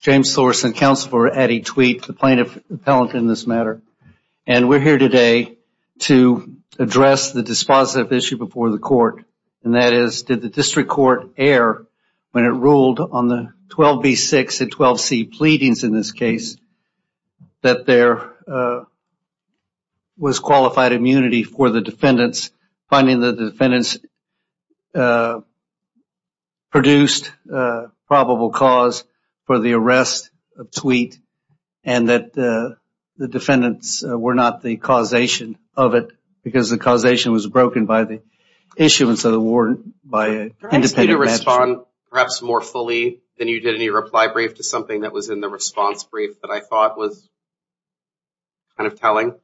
James Thorson, counsel for Addie Thweatt, plaintiff appellant in this matter and we're here today to address the dispositive issue before the court and that is did the district court err when it ruled on the 12b6 and 12c pleadings in this case that there was qualified immunity for the defendants, finding that the defendants produced probable cause for the arrest of Thweatt and that the defendants were not the causation of it because the causation was broken by the issuance of the warrant by an independent magistrate. Can I ask you to respond perhaps more fully than you did in your reply brief to something that was in the response brief that I thought was kind of telling.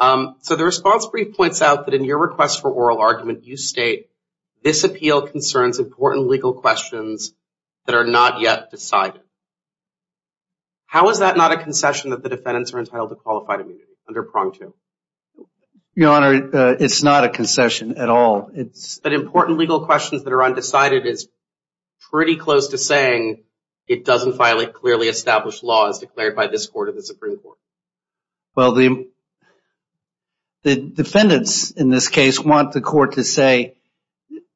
So the response brief points out that in your request for oral argument you state this appeal concerns important legal questions that are not yet decided. How is that not a concession that the defendants are entitled to qualified immunity under prong two? Your Honor, it's not a concession at all. It's that important legal questions that are undecided is pretty close to saying it doesn't violate clearly established laws declared by this court or the Supreme Court. Well the defendants in this case want the court to say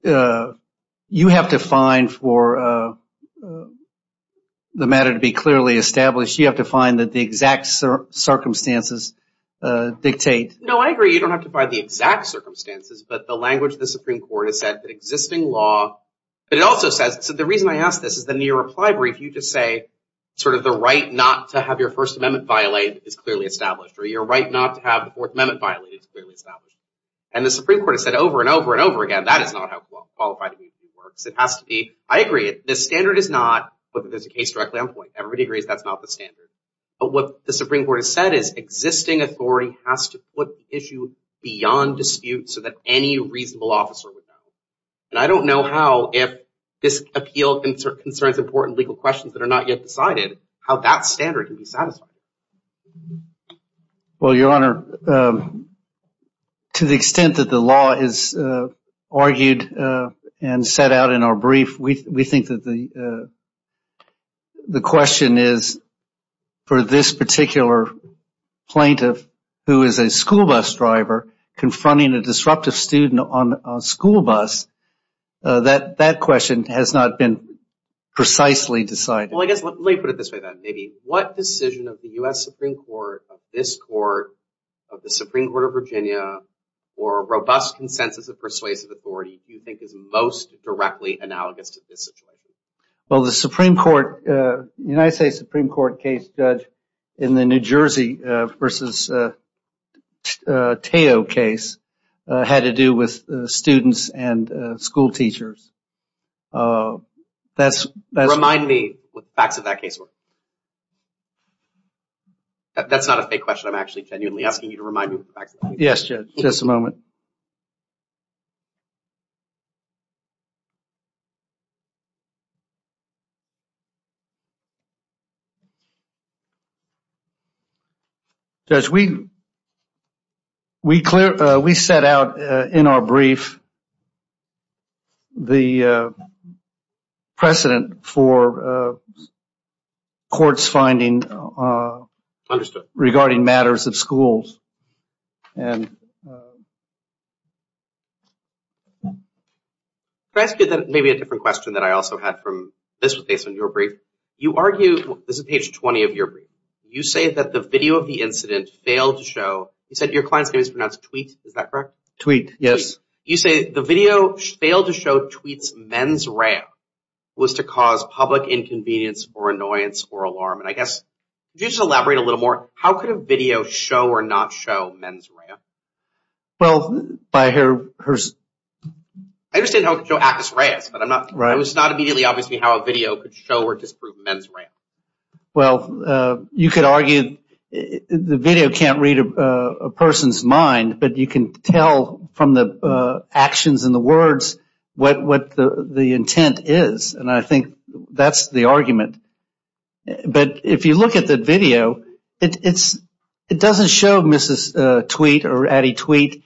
you have to find for the matter to be clearly established, you have to find that the exact circumstances dictate. No I agree you don't have to find the exact circumstances but the language of the Supreme Court has said that existing law, but it also says, so the reason I ask this is that in your reply brief you just say sort of the right not to have your First Amendment violate is clearly established or your right not to have the Fourth Amendment violate is clearly established. And the Supreme Court has said over and over and over again that is not how qualified immunity works. It has to be, I agree, the standard is not, but there's a case directly on point. Everybody agrees that's not the standard, but what the Supreme Court has said is existing authority has to put the issue beyond dispute so that any reasonable officer would know. And I don't know how if this appeal concerns important legal questions that are not yet decided how that standard can be satisfied. Well Your Honor, to the extent that the law is argued and set out in our brief, we think that the question is for this particular plaintiff who is a school bus driver confronting a disruptive student on a school bus, that question has not been precisely decided. Well I guess, let me put it this way then. What decision of the U.S. Supreme Court, of this Court, of the Supreme Court of Virginia for robust consensus of persuasive authority do you think is most directly analogous to this situation? Well the Supreme Court, the United States Supreme Court case judge in the New Jersey versus Teo case had to do with students and school teachers. Remind me what the facts of that case were. That's not a fake question. I'm actually genuinely asking you to remind me what the facts of that case were. Yes Judge, just a moment. Judge, we clear, we set out in our brief the precedent for courts finding regarding matters of schools. Can I ask you maybe a different question that I also had from this, based on your brief? You argue, this is page 20 of your brief, you say that the video of the incident failed to show, you said your client's name is pronounced Tweet, is that correct? Tweet, yes. You say the video failed to show Tweet's mens rea was to cause public inconvenience or annoyance or alarm. I guess, could you just elaborate a little more, how could a video show or not show mens rea? I understand how it could show acus reas, but it's not immediately obvious to me how a video could show or disprove mens rea. Well you could argue the video can't read a person's mind, but you can tell from the But if you look at the video, it doesn't show Mrs. Tweet or Addie Tweet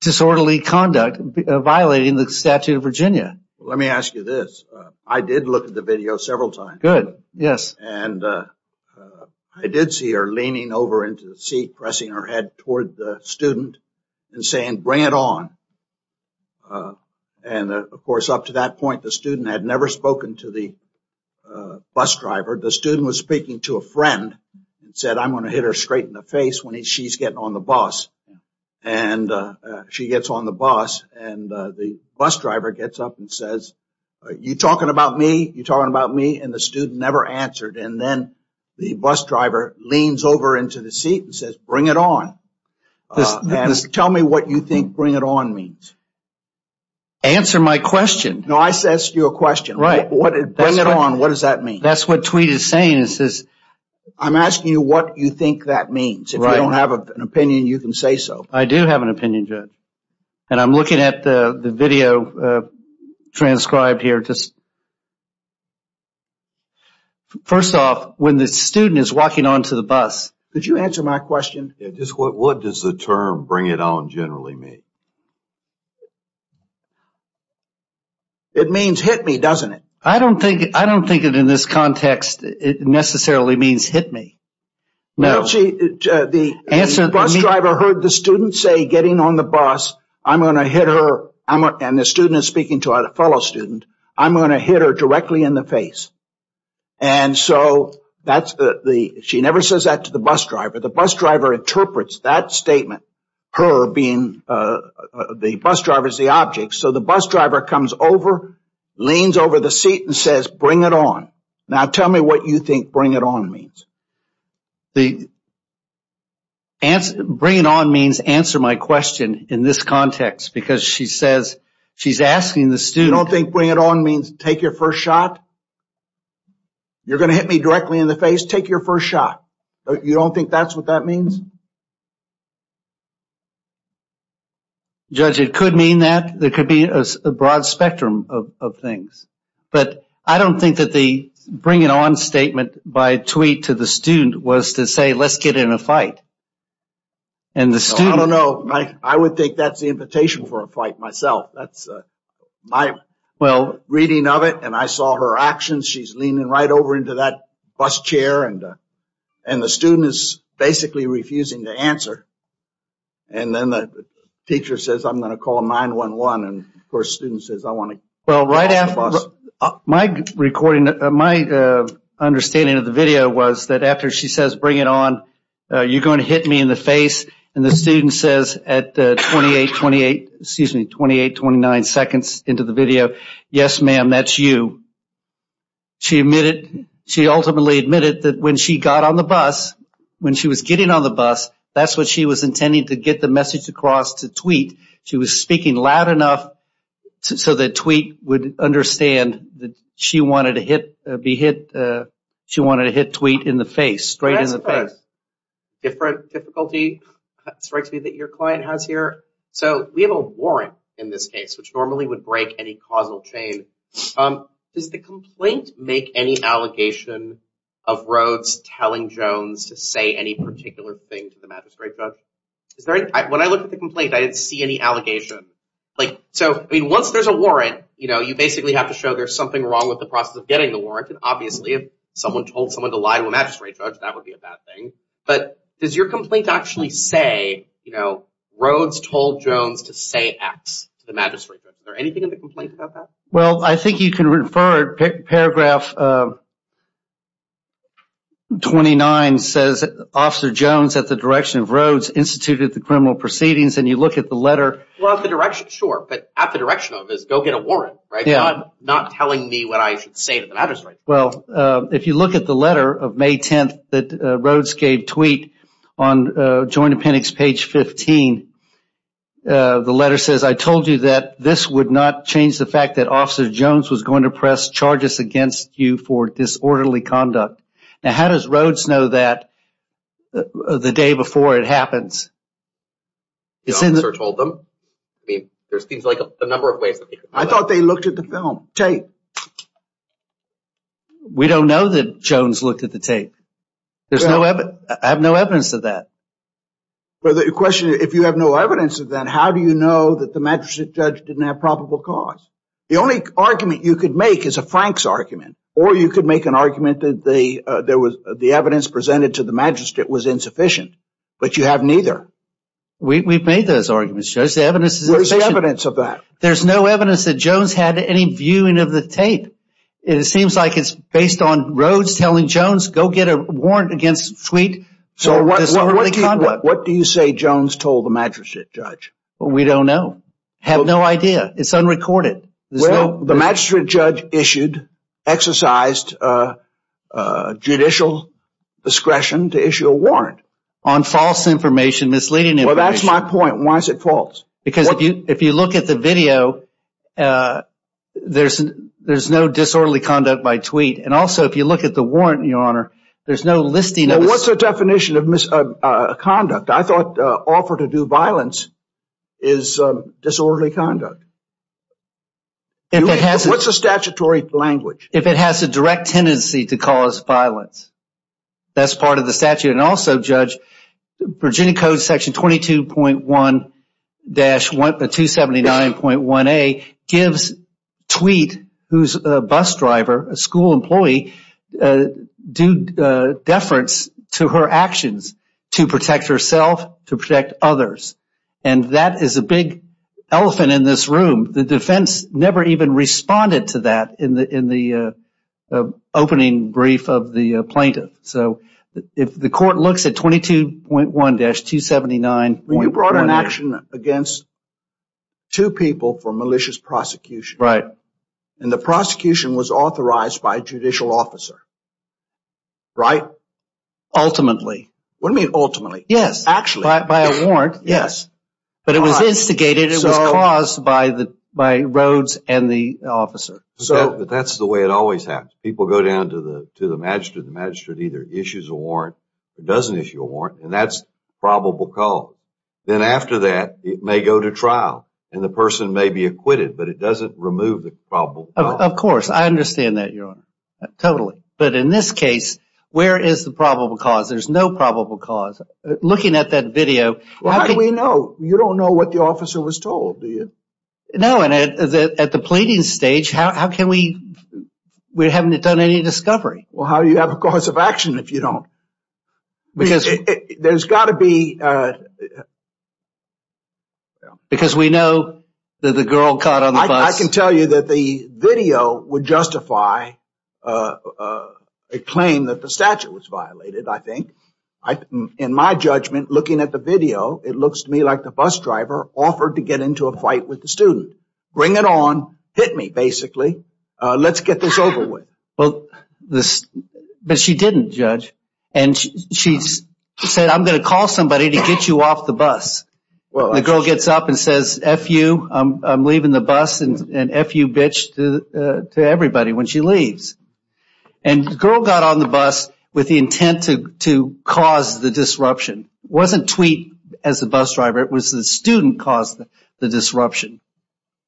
disorderly conduct violating the statute of Virginia. Let me ask you this, I did look at the video several times, and I did see her leaning over into the seat, pressing her head toward the student and saying, bring it on. And of course, up to that point, the student had never spoken to the bus driver. The student was speaking to a friend and said, I'm going to hit her straight in the face when she's getting on the bus. And she gets on the bus, and the bus driver gets up and says, you talking about me? You talking about me? And the student never answered. And then the bus driver leans over into the seat and says, bring it on. Tell me what you think bring it on means. Answer my question. No, I asked you a question. What does bring it on, what does that mean? That's what Tweet is saying. I'm asking you what you think that means. If you don't have an opinion, you can say so. I do have an opinion, Judge. And I'm looking at the video transcribed here. First off, when the student is walking onto the bus. Could you answer my question? What does the term bring it on generally mean? It means hit me, doesn't it? I don't think in this context it necessarily means hit me. The bus driver heard the student say, getting on the bus, I'm going to hit her, and the student is speaking to a fellow student, I'm going to hit her directly in the face. And so, she never says that to the bus driver. The bus driver interprets that statement, her being the bus driver is the object, so the bus driver comes over, leans over the seat and says, bring it on. Now tell me what you think bring it on means. Bring it on means answer my question in this context, because she says, she's asking the student. You don't think bring it on means take your first shot? You're going to hit me directly in the face, take your first shot. You don't think that's what that means? Judge, it could mean that. There could be a broad spectrum of things. But I don't think that the bring it on statement by tweet to the student was to say, let's get in a fight. And the student... I don't know. I would think that's the invitation for a fight myself. That's my reading of it. And I saw her actions. She's leaning right over into that bus chair. And the student is basically refusing to answer. And then the teacher says, I'm going to call 9-1-1. And of course, student says, I want to... Well, right after my recording, my understanding of the video was that after she says, bring it on, you're going to hit me in the face. And the student says at 28, 28, excuse me, 28, 29 seconds into the video. Yes, ma'am, that's you. She admitted... She ultimately admitted that when she got on the bus, when she was getting on the bus, that's what she was intending to get the message across to tweet. She was speaking loud enough so that tweet would understand that she wanted to hit tweet in the face, straight in the face. Different difficulty strikes me that your client has here. So we have a warrant in this case, which normally would break any causal chain. Does the complaint make any allegation of Rhodes telling Jones to say any particular thing to the magistrate judge? When I looked at the complaint, I didn't see any allegation. So once there's a warrant, you basically have to show there's something wrong with the process of getting the warrant. And obviously, if someone told someone to lie to a magistrate judge, that would be a bad thing. But does your complaint actually say Rhodes told Jones to say X to the magistrate judge? Is there anything in the complaint about that? Well, I think you can refer paragraph 29 says, Officer Jones at the direction of Rhodes instituted the criminal proceedings. And you look at the letter. Well, at the direction, sure. But at the direction of is go get a warrant, right? Yeah. Not telling me what I should say to the magistrate. Well, if you look at the letter of May 10th that Rhodes gave tweet on joint appendix page 15, the letter says, I told you that this would not change the fact that Officer Jones was going to press charges against you for disorderly conduct. Now, how does Rhodes know that the day before it happens? The officer told them? I mean, there's things like a number of ways. I thought they looked at the film tape. We don't know that Jones looked at the tape. There's no evidence. I have no evidence of that. But the question is, if you have no evidence of that, how do you know that the magistrate judge didn't have probable cause? The only argument you could make is a Frank's argument. Or you could make an argument that the evidence presented to the magistrate was insufficient. But you have neither. We've made those arguments, Judge. The evidence is sufficient. Where's the evidence of that? There's no evidence that Jones had any viewing of the tape. It seems like it's based on Rhodes telling Jones, go get a warrant against tweet. So what do you say Jones told the magistrate judge? We don't know. Have no idea. It's unrecorded. The magistrate judge exercised judicial discretion to issue a warrant. On false information, misleading information. Well, that's my point. Why is it false? Because if you look at the video, there's no disorderly conduct by tweet. And also, if you look at the warrant, Your Honor, there's no listing. What's the definition of misconduct? I thought offer to do violence is disorderly conduct. What's the statutory language? If it has a direct tendency to cause violence, that's part of the statute. And also, Judge, Virginia Code section 22.1-279.1A gives tweet, who's a bus driver, a school employee, a due deference to her actions to protect herself, to protect others. And that is a big elephant in this room. The defense never even responded to that in the opening brief of the plaintiff. So if the court looks at 22.1-279.1A. You brought an action against two people for malicious prosecution. Right. And the prosecution was authorized by a judicial officer. Right? Ultimately. What do you mean ultimately? Yes. Actually. By a warrant. Yes. But it was instigated. It was caused by Rhodes and the officer. But that's the way it always happens. People go down to the magistrate. The magistrate either issues a warrant or doesn't issue a warrant. And that's probable cause. Then after that, it may go to trial and the person may be acquitted. But it doesn't remove the probable cause. Of course. I understand that, Your Honor. Totally. But in this case, where is the probable cause? There's no probable cause. Looking at that video. Well, how do we know? You don't know what the officer was told, do you? No. And at the pleading stage, how can we... We haven't done any discovery. Well, how do you have a cause of action if you don't? Because there's got to be... Yeah. Because we know that the girl caught on the bus... I can tell you that the video would justify a claim that the statute was violated, I think. In my judgment, looking at the video, it looks to me like the bus driver offered to get into a fight with the student. Bring it on. Hit me, basically. Let's get this over with. Well, this... But she didn't, Judge. And she said, I'm going to call somebody to get you off the bus. Well... The girl gets up and says, F you, I'm leaving the bus, and F you, bitch, to everybody when she leaves. And the girl got on the bus with the intent to cause the disruption. Wasn't tweet as the bus driver. It was the student caused the disruption.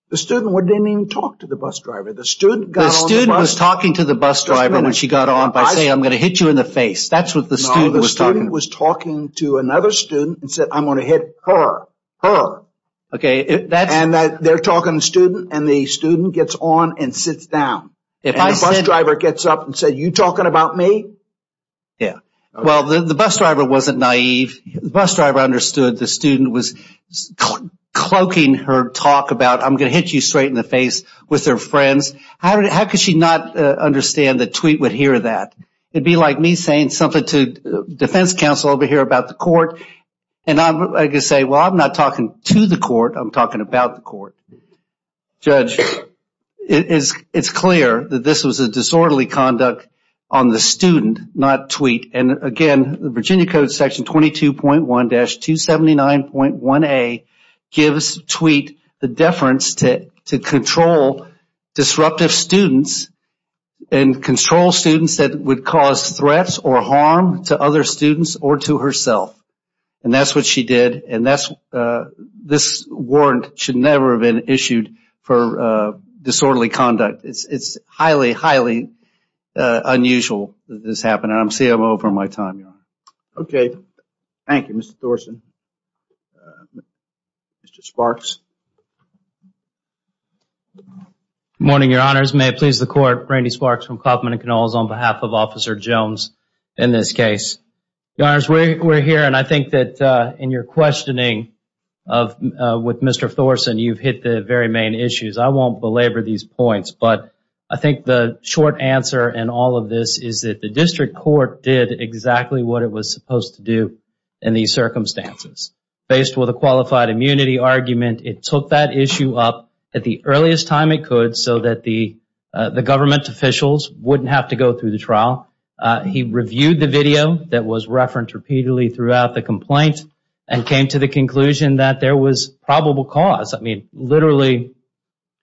The student didn't even talk to the bus driver. The student got on the bus... The student was talking to the bus driver when she got on by saying, I'm going to hit you in the face. That's what the student was talking... I'm going to hit her, her. Okay, that's... And they're talking to the student, and the student gets on and sits down. If I said... And the bus driver gets up and said, you talking about me? Yeah. Well, the bus driver wasn't naive. The bus driver understood the student was cloaking her talk about, I'm going to hit you straight in the face with their friends. How could she not understand the tweet would hear that? It'd be like me saying something to defense counsel over here about the court. And I could say, well, I'm not talking to the court. I'm talking about the court. Judge, it's clear that this was a disorderly conduct on the student, not tweet. And again, the Virginia Code section 22.1-279.1A gives tweet the deference to control disruptive students and control students that would cause threats or harm to other students or to herself. And that's what she did. And this warrant should never have been issued for disorderly conduct. It's highly, highly unusual that this happened. And I'm CMO for my time, Your Honor. Okay. Thank you, Mr. Thorsen. Mr. Sparks. Morning, Your Honors. May it please the court. Randy Sparks from Kauffman & Knolls on behalf of Officer Jones in this case. Your Honors, we're here. And I think that in your questioning with Mr. Thorsen, you've hit the very main issues. I won't belabor these points. But I think the short answer in all of this is that the district court did exactly what it was supposed to do in these circumstances. Based with a qualified immunity argument, it took that issue up at the earliest time it could so that the government officials wouldn't have to go through the trial. He reviewed the video that was referenced repeatedly throughout the complaint and came to the conclusion that there was probable cause. I mean, literally,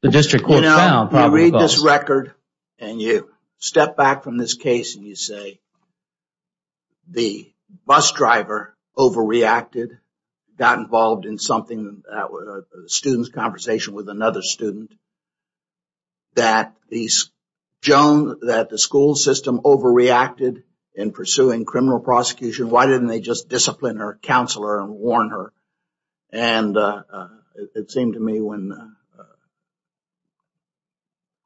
the district court found probable cause. You know, you read this record and you step back from this case and you say, the bus driver overreacted, got involved in something, a student's conversation with in pursuing criminal prosecution. Why didn't they just discipline her, counsel her, and warn her? And it seemed to me when the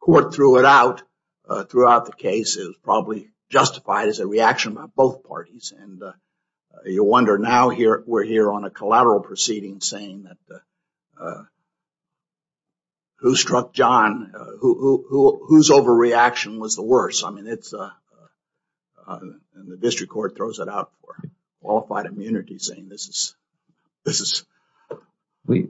court threw it out throughout the case, it was probably justified as a reaction by both parties. And you wonder now we're here on a collateral proceeding saying that whose overreaction was the worst? I mean, the district court throws it out for qualified immunity saying this is... We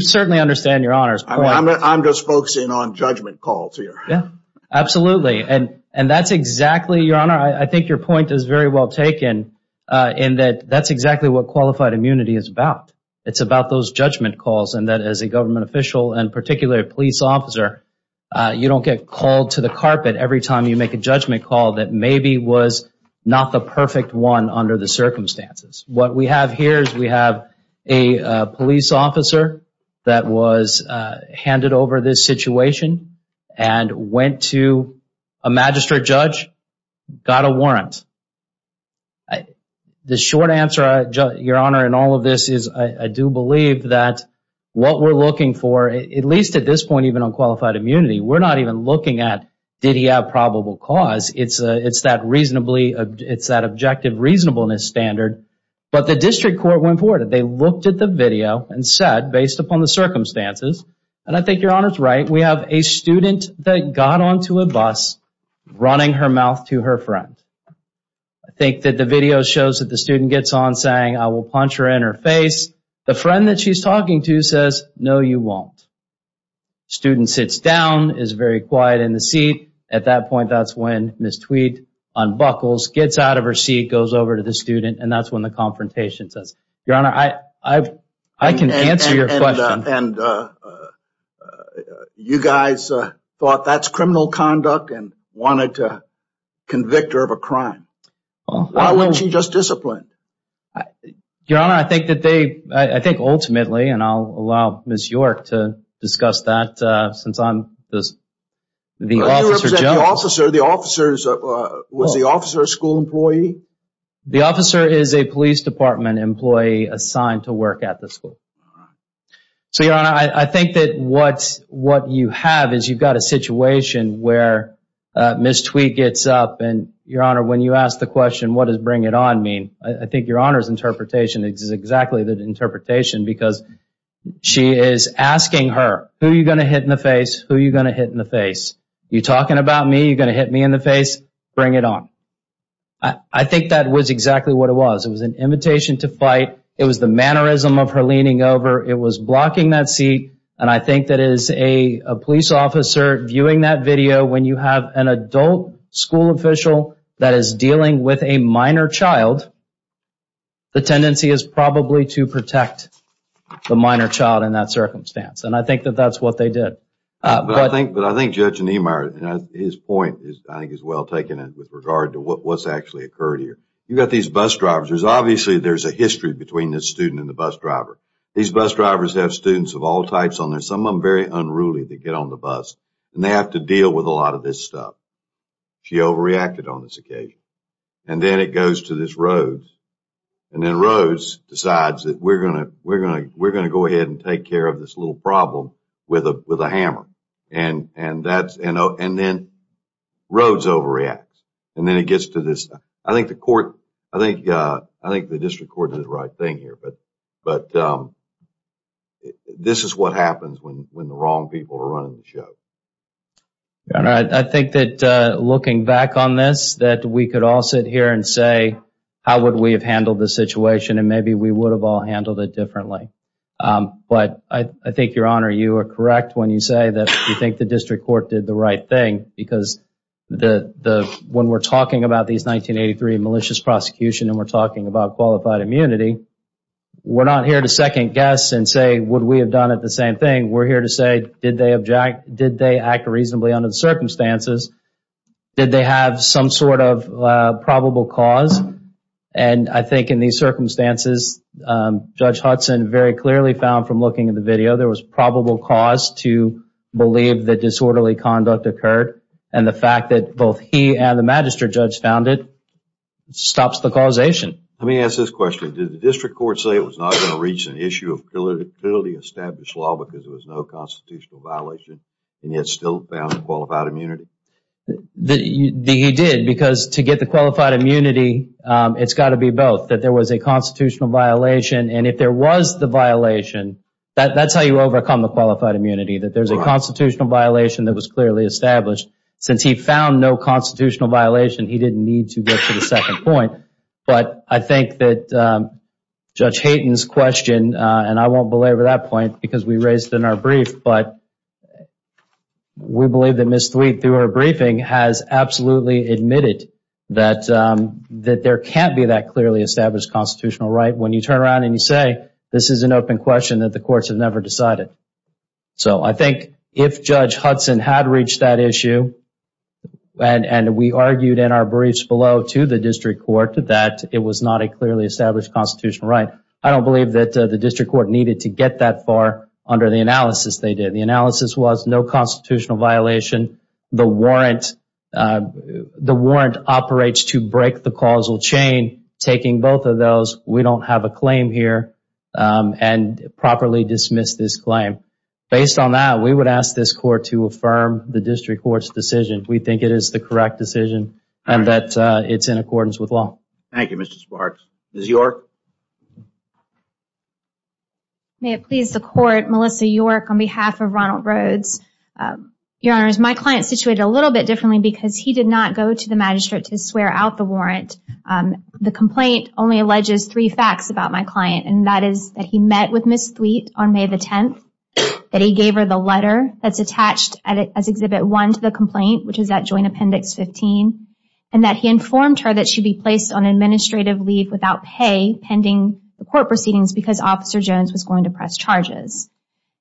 certainly understand your honors. I'm just focusing on judgment calls here. Yeah, absolutely. And that's exactly, your honor, I think your point is very well taken in that that's exactly what qualified immunity is about. It's about those judgment calls and that as a government official, and particularly a to the carpet every time you make a judgment call that maybe was not the perfect one under the circumstances. What we have here is we have a police officer that was handed over this situation and went to a magistrate judge, got a warrant. The short answer, your honor, in all of this is I do believe that what we're looking for, at least at this point, even on qualified immunity, we're not even looking at did he have probable cause. It's that objective reasonableness standard. But the district court went forward. They looked at the video and said, based upon the circumstances, and I think your honor's right, we have a student that got onto a bus running her mouth to her friend. I think that the video shows that the student gets on saying, I will punch her in her face. The friend that she's talking to says, no, you won't. Student sits down, is very quiet in the seat. At that point, that's when Ms. Tweed unbuckles, gets out of her seat, goes over to the student, and that's when the confrontation starts. Your honor, I can answer your question. You guys thought that's criminal conduct and wanted to convict her of a crime. Why wasn't she just disciplined? Your honor, I think that they, I think ultimately, and I'll allow Ms. York to discuss that since I'm the officer. The officer, was the officer a school employee? The officer is a police department employee assigned to work at the school. So your honor, I think that what you have is you've got a situation where Ms. Tweed gets up and your honor, when you ask the question, what does bring it on mean? I think your honor's interpretation is exactly the interpretation because she is asking her, who are you going to hit in the face? Who are you going to hit in the face? You talking about me? You going to hit me in the face? Bring it on. I think that was exactly what it was. It was an invitation to fight. It was the mannerism of her leaning over. It was blocking that seat. And I think that as a police officer viewing that video, when you have an adult school official that is dealing with a minor child, the tendency is probably to protect the minor child in that circumstance. And I think that that's what they did. But I think Judge Niemeyer, his point is, I think is well taken in with regard to what's actually occurred here. You've got these bus drivers, there's obviously, there's a history between this student and the bus driver. These bus drivers have students of all types on there. Some of them very unruly. They get on the bus and they have to deal with a lot of this stuff. She overreacted on this occasion. And then it goes to this Rhodes. And then Rhodes decides that we're going to, we're going to, we're going to go ahead and take care of this little problem with a, with a hammer. And, and that's, and then Rhodes overreacts. And then it gets to this, I think the court, I think, I think the district court did the right thing here. But, but this is what happens when, when the wrong people are running the show. All right. I think that looking back on this, that we could all sit here and say, how would we have handled this situation? And maybe we would have all handled it differently. But I, I think Your Honor, you are correct when you say that you think the district court did the right thing because the, the, when we're talking about these 1983 malicious prosecution and we're talking about qualified immunity, we're not here to second guess and say, would we have done it the same thing? We're here to say, did they object? Did they act reasonably under the circumstances? Did they have some sort of probable cause? And I think in these circumstances, Judge Hudson very clearly found from looking at the video, there was probable cause to believe that disorderly conduct occurred. And the fact that both he and the Magistrate Judge found it, stops the causation. Let me ask this question. Did the district court say it was not going to reach an issue of putility established law because there was no constitutional violation and yet still found qualified immunity? The, the, he did because to get the qualified immunity, it's got to be both. That there was a constitutional violation and if there was the violation, that, that's how you overcome the qualified immunity. That there's a constitutional violation that was clearly established. Since he found no constitutional violation, he didn't need to get to the second point. But I think that Judge Hayden's question, and I won't belabor that point because we raised it in our brief, but we believe that Ms. Thweatt, through her briefing, has absolutely admitted that, that there can't be that clearly established constitutional right when you turn around and you say, this is an open question that the courts have never decided. So I think if Judge Hudson had reached that issue, and, and we argued in our briefs below to the district court that it was not a clearly established constitutional right. I don't believe that the district court needed to get that far under the analysis they did. The analysis was no constitutional violation. The warrant, the warrant operates to break the causal chain, taking both of those. We don't have a claim here and properly dismiss this claim. Based on that, we would ask this court to affirm the district court's decision. We think it is the correct decision and that it's in accordance with law. Thank you, Mr. Sparks. Ms. York? May it please the court, Melissa York on behalf of Ronald Rhodes. Your Honor, my client is situated a little bit differently because he did not go to the magistrate to swear out the warrant. The complaint only alleges three facts about my client, and that is that he met with Ms. Thweatt on May the 10th, that he gave her the letter that's attached as exhibit one to the complaint, which is that joint appendix 15, and that he informed her that she'd be placed on administrative leave without pay pending the court proceedings because Officer Jones was going to press charges.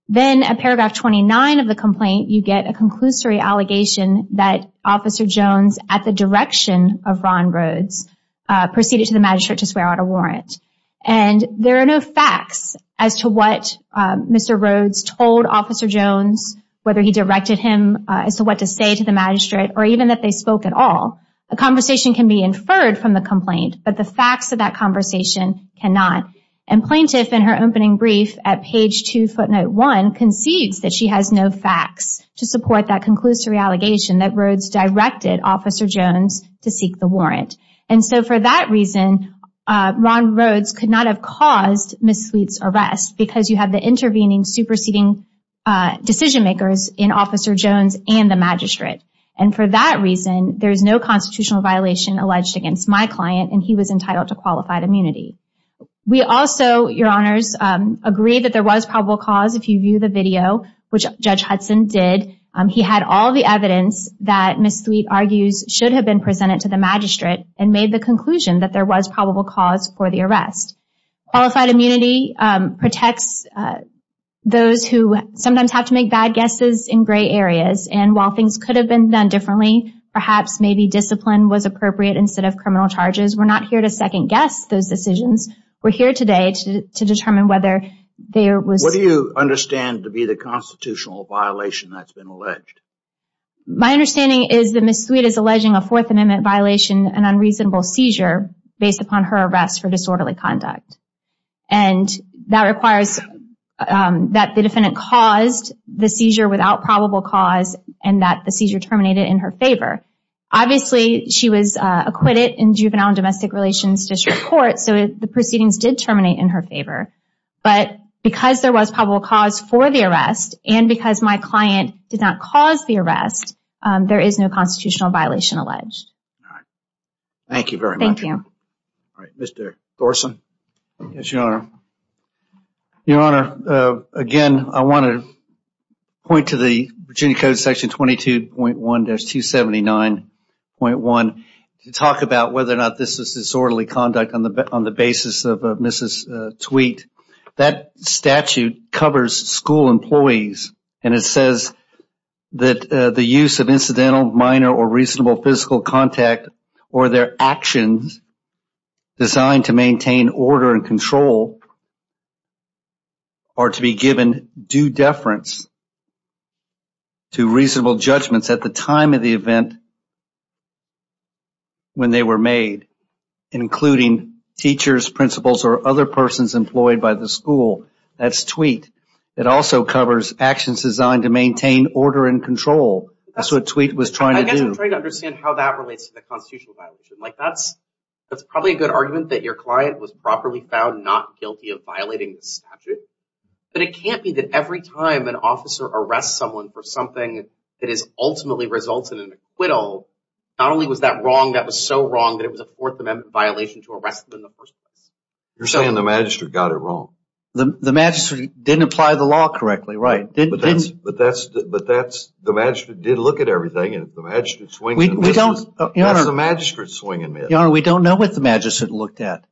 Then at paragraph 29 of the complaint, you get a conclusory allegation that Officer Jones at the direction of Ron Rhodes proceeded to the magistrate to swear out a warrant. And there are no facts as to what Mr. Rhodes told Officer Jones, whether he directed him, as to what to say to the magistrate, or even that they spoke at all. A conversation can be inferred from the complaint, but the facts of that conversation cannot. And plaintiff in her opening brief at page two, footnote one, concedes that she has no facts to support that conclusory allegation that Rhodes directed Officer Jones to seek the warrant. And so for that reason, Ron Rhodes could not have caused Ms. Thweatt's arrest because you intervening superseding decision makers in Officer Jones and the magistrate. And for that reason, there is no constitutional violation alleged against my client, and he was entitled to qualified immunity. We also, Your Honors, agree that there was probable cause if you view the video, which Judge Hudson did. He had all the evidence that Ms. Thweatt argues should have been presented to the magistrate and made the conclusion that there was probable cause for the arrest. Qualified immunity protects those who sometimes have to make bad guesses in gray areas. And while things could have been done differently, perhaps maybe discipline was appropriate instead of criminal charges. We're not here to second guess those decisions. We're here today to determine whether there was... What do you understand to be the constitutional violation that's been alleged? My understanding is that Ms. Thweatt is alleging a Fourth Amendment violation, an unreasonable seizure based upon her arrest for disorderly conduct. And that requires that the defendant caused the seizure without probable cause and that the seizure terminated in her favor. Obviously, she was acquitted in Juvenile and Domestic Relations District Court, so the proceedings did terminate in her favor. But because there was probable cause for the arrest and because my client did not cause the arrest, there is no constitutional violation alleged. All right. Thank you very much. Thank you. Mr. Thorson? Yes, Your Honor. Your Honor, again, I want to point to the Virginia Code Section 22.1-279.1 to talk about whether or not this is disorderly conduct on the basis of Ms. Thweatt. That statute covers school employees and it says that the use of incidental, minor, or or their actions designed to maintain order and control are to be given due deference to reasonable judgments at the time of the event when they were made, including teachers, principals, or other persons employed by the school. That's Thweatt. It also covers actions designed to maintain order and control. That's what Thweatt was trying to do. I guess I'm trying to understand how that relates to the constitutional violation. Like, that's probably a good argument that your client was properly found not guilty of violating the statute. But it can't be that every time an officer arrests someone for something that ultimately results in an acquittal, not only was that wrong, that was so wrong that it was a Fourth Amendment violation to arrest them in the first place. You're saying the magistrate got it wrong. The magistrate didn't apply the law correctly, right? But that's, the magistrate did look at everything and the magistrate's swing. We don't, Your Honor, we don't know what the magistrate looked at.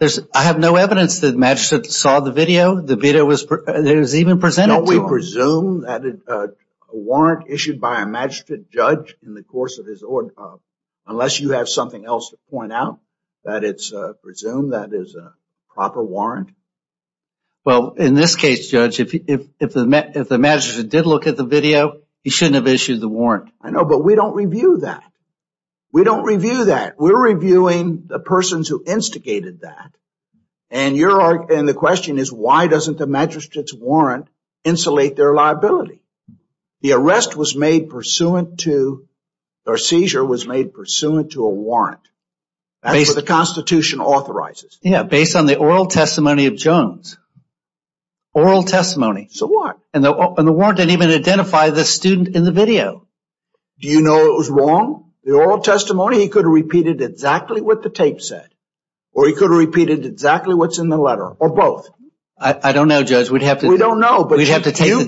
I have no evidence that the magistrate saw the video. The video was even presented to him. Don't we presume that a warrant issued by a magistrate judge in the course of his order, unless you have something else to point out, that it's presumed that is a proper warrant? Well, in this case, Judge, if the magistrate did look at the video, he shouldn't have issued the warrant. I know, but we don't review that. We don't review that. We're reviewing the persons who instigated that. And the question is, why doesn't the magistrate's warrant insulate their liability? The arrest was made pursuant to, or seizure was made pursuant to a warrant. That's what the Constitution authorizes. Yeah, based on the oral testimony of Jones. Oral testimony. So what? And the warrant didn't even identify the student in the video. Do you know it was wrong? The oral testimony, he could have repeated exactly what the tape said, or he could have repeated exactly what's in the letter, or both. I don't know, Judge, we'd have to... We don't know, but you've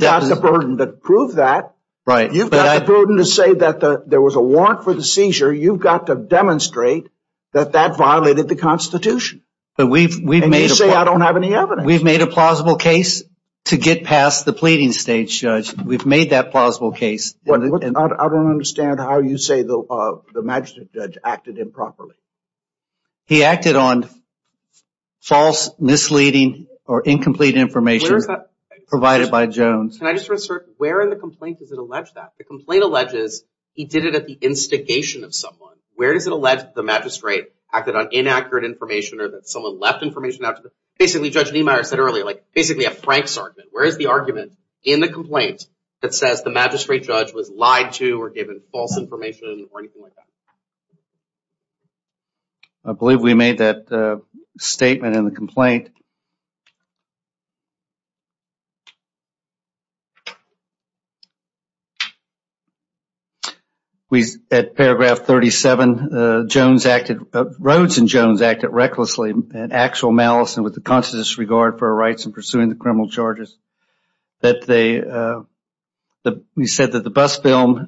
got the burden to prove that. Right. You've got the burden to say that there was a warrant for the seizure. You've got to demonstrate that that violated the Constitution. And you say I don't have any evidence. We've made a plausible case to get past the pleading stage, Judge. We've made that plausible case. I don't understand how you say the magistrate judge acted improperly. He acted on false, misleading, or incomplete information provided by Jones. Can I just reassert, where in the complaint does it allege that? Where does it allege the magistrate acted on inaccurate information, or that someone left information out? Basically, Judge Niemeyer said earlier, basically a Frank's argument. Where is the argument in the complaint that says the magistrate judge was lied to, or given false information, or anything like that? I believe we made that statement in the complaint. At paragraph 37, Rhodes and Jones acted recklessly and actual malice and with the conscientious regard for our rights in pursuing the criminal charges. We said that the bus film,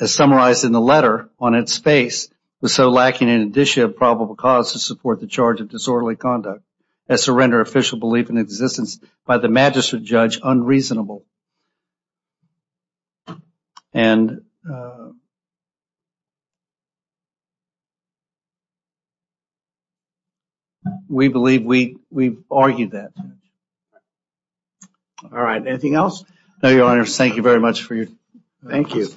as summarized in the letter on its face, was so lacking in an issue of probable cause to support the charge of disorderly conduct as to render official belief in existence by the magistrate judge unreasonable. We believe we've argued that. All right, anything else? No, Your Honor. Thank you very much for your time. Thank you.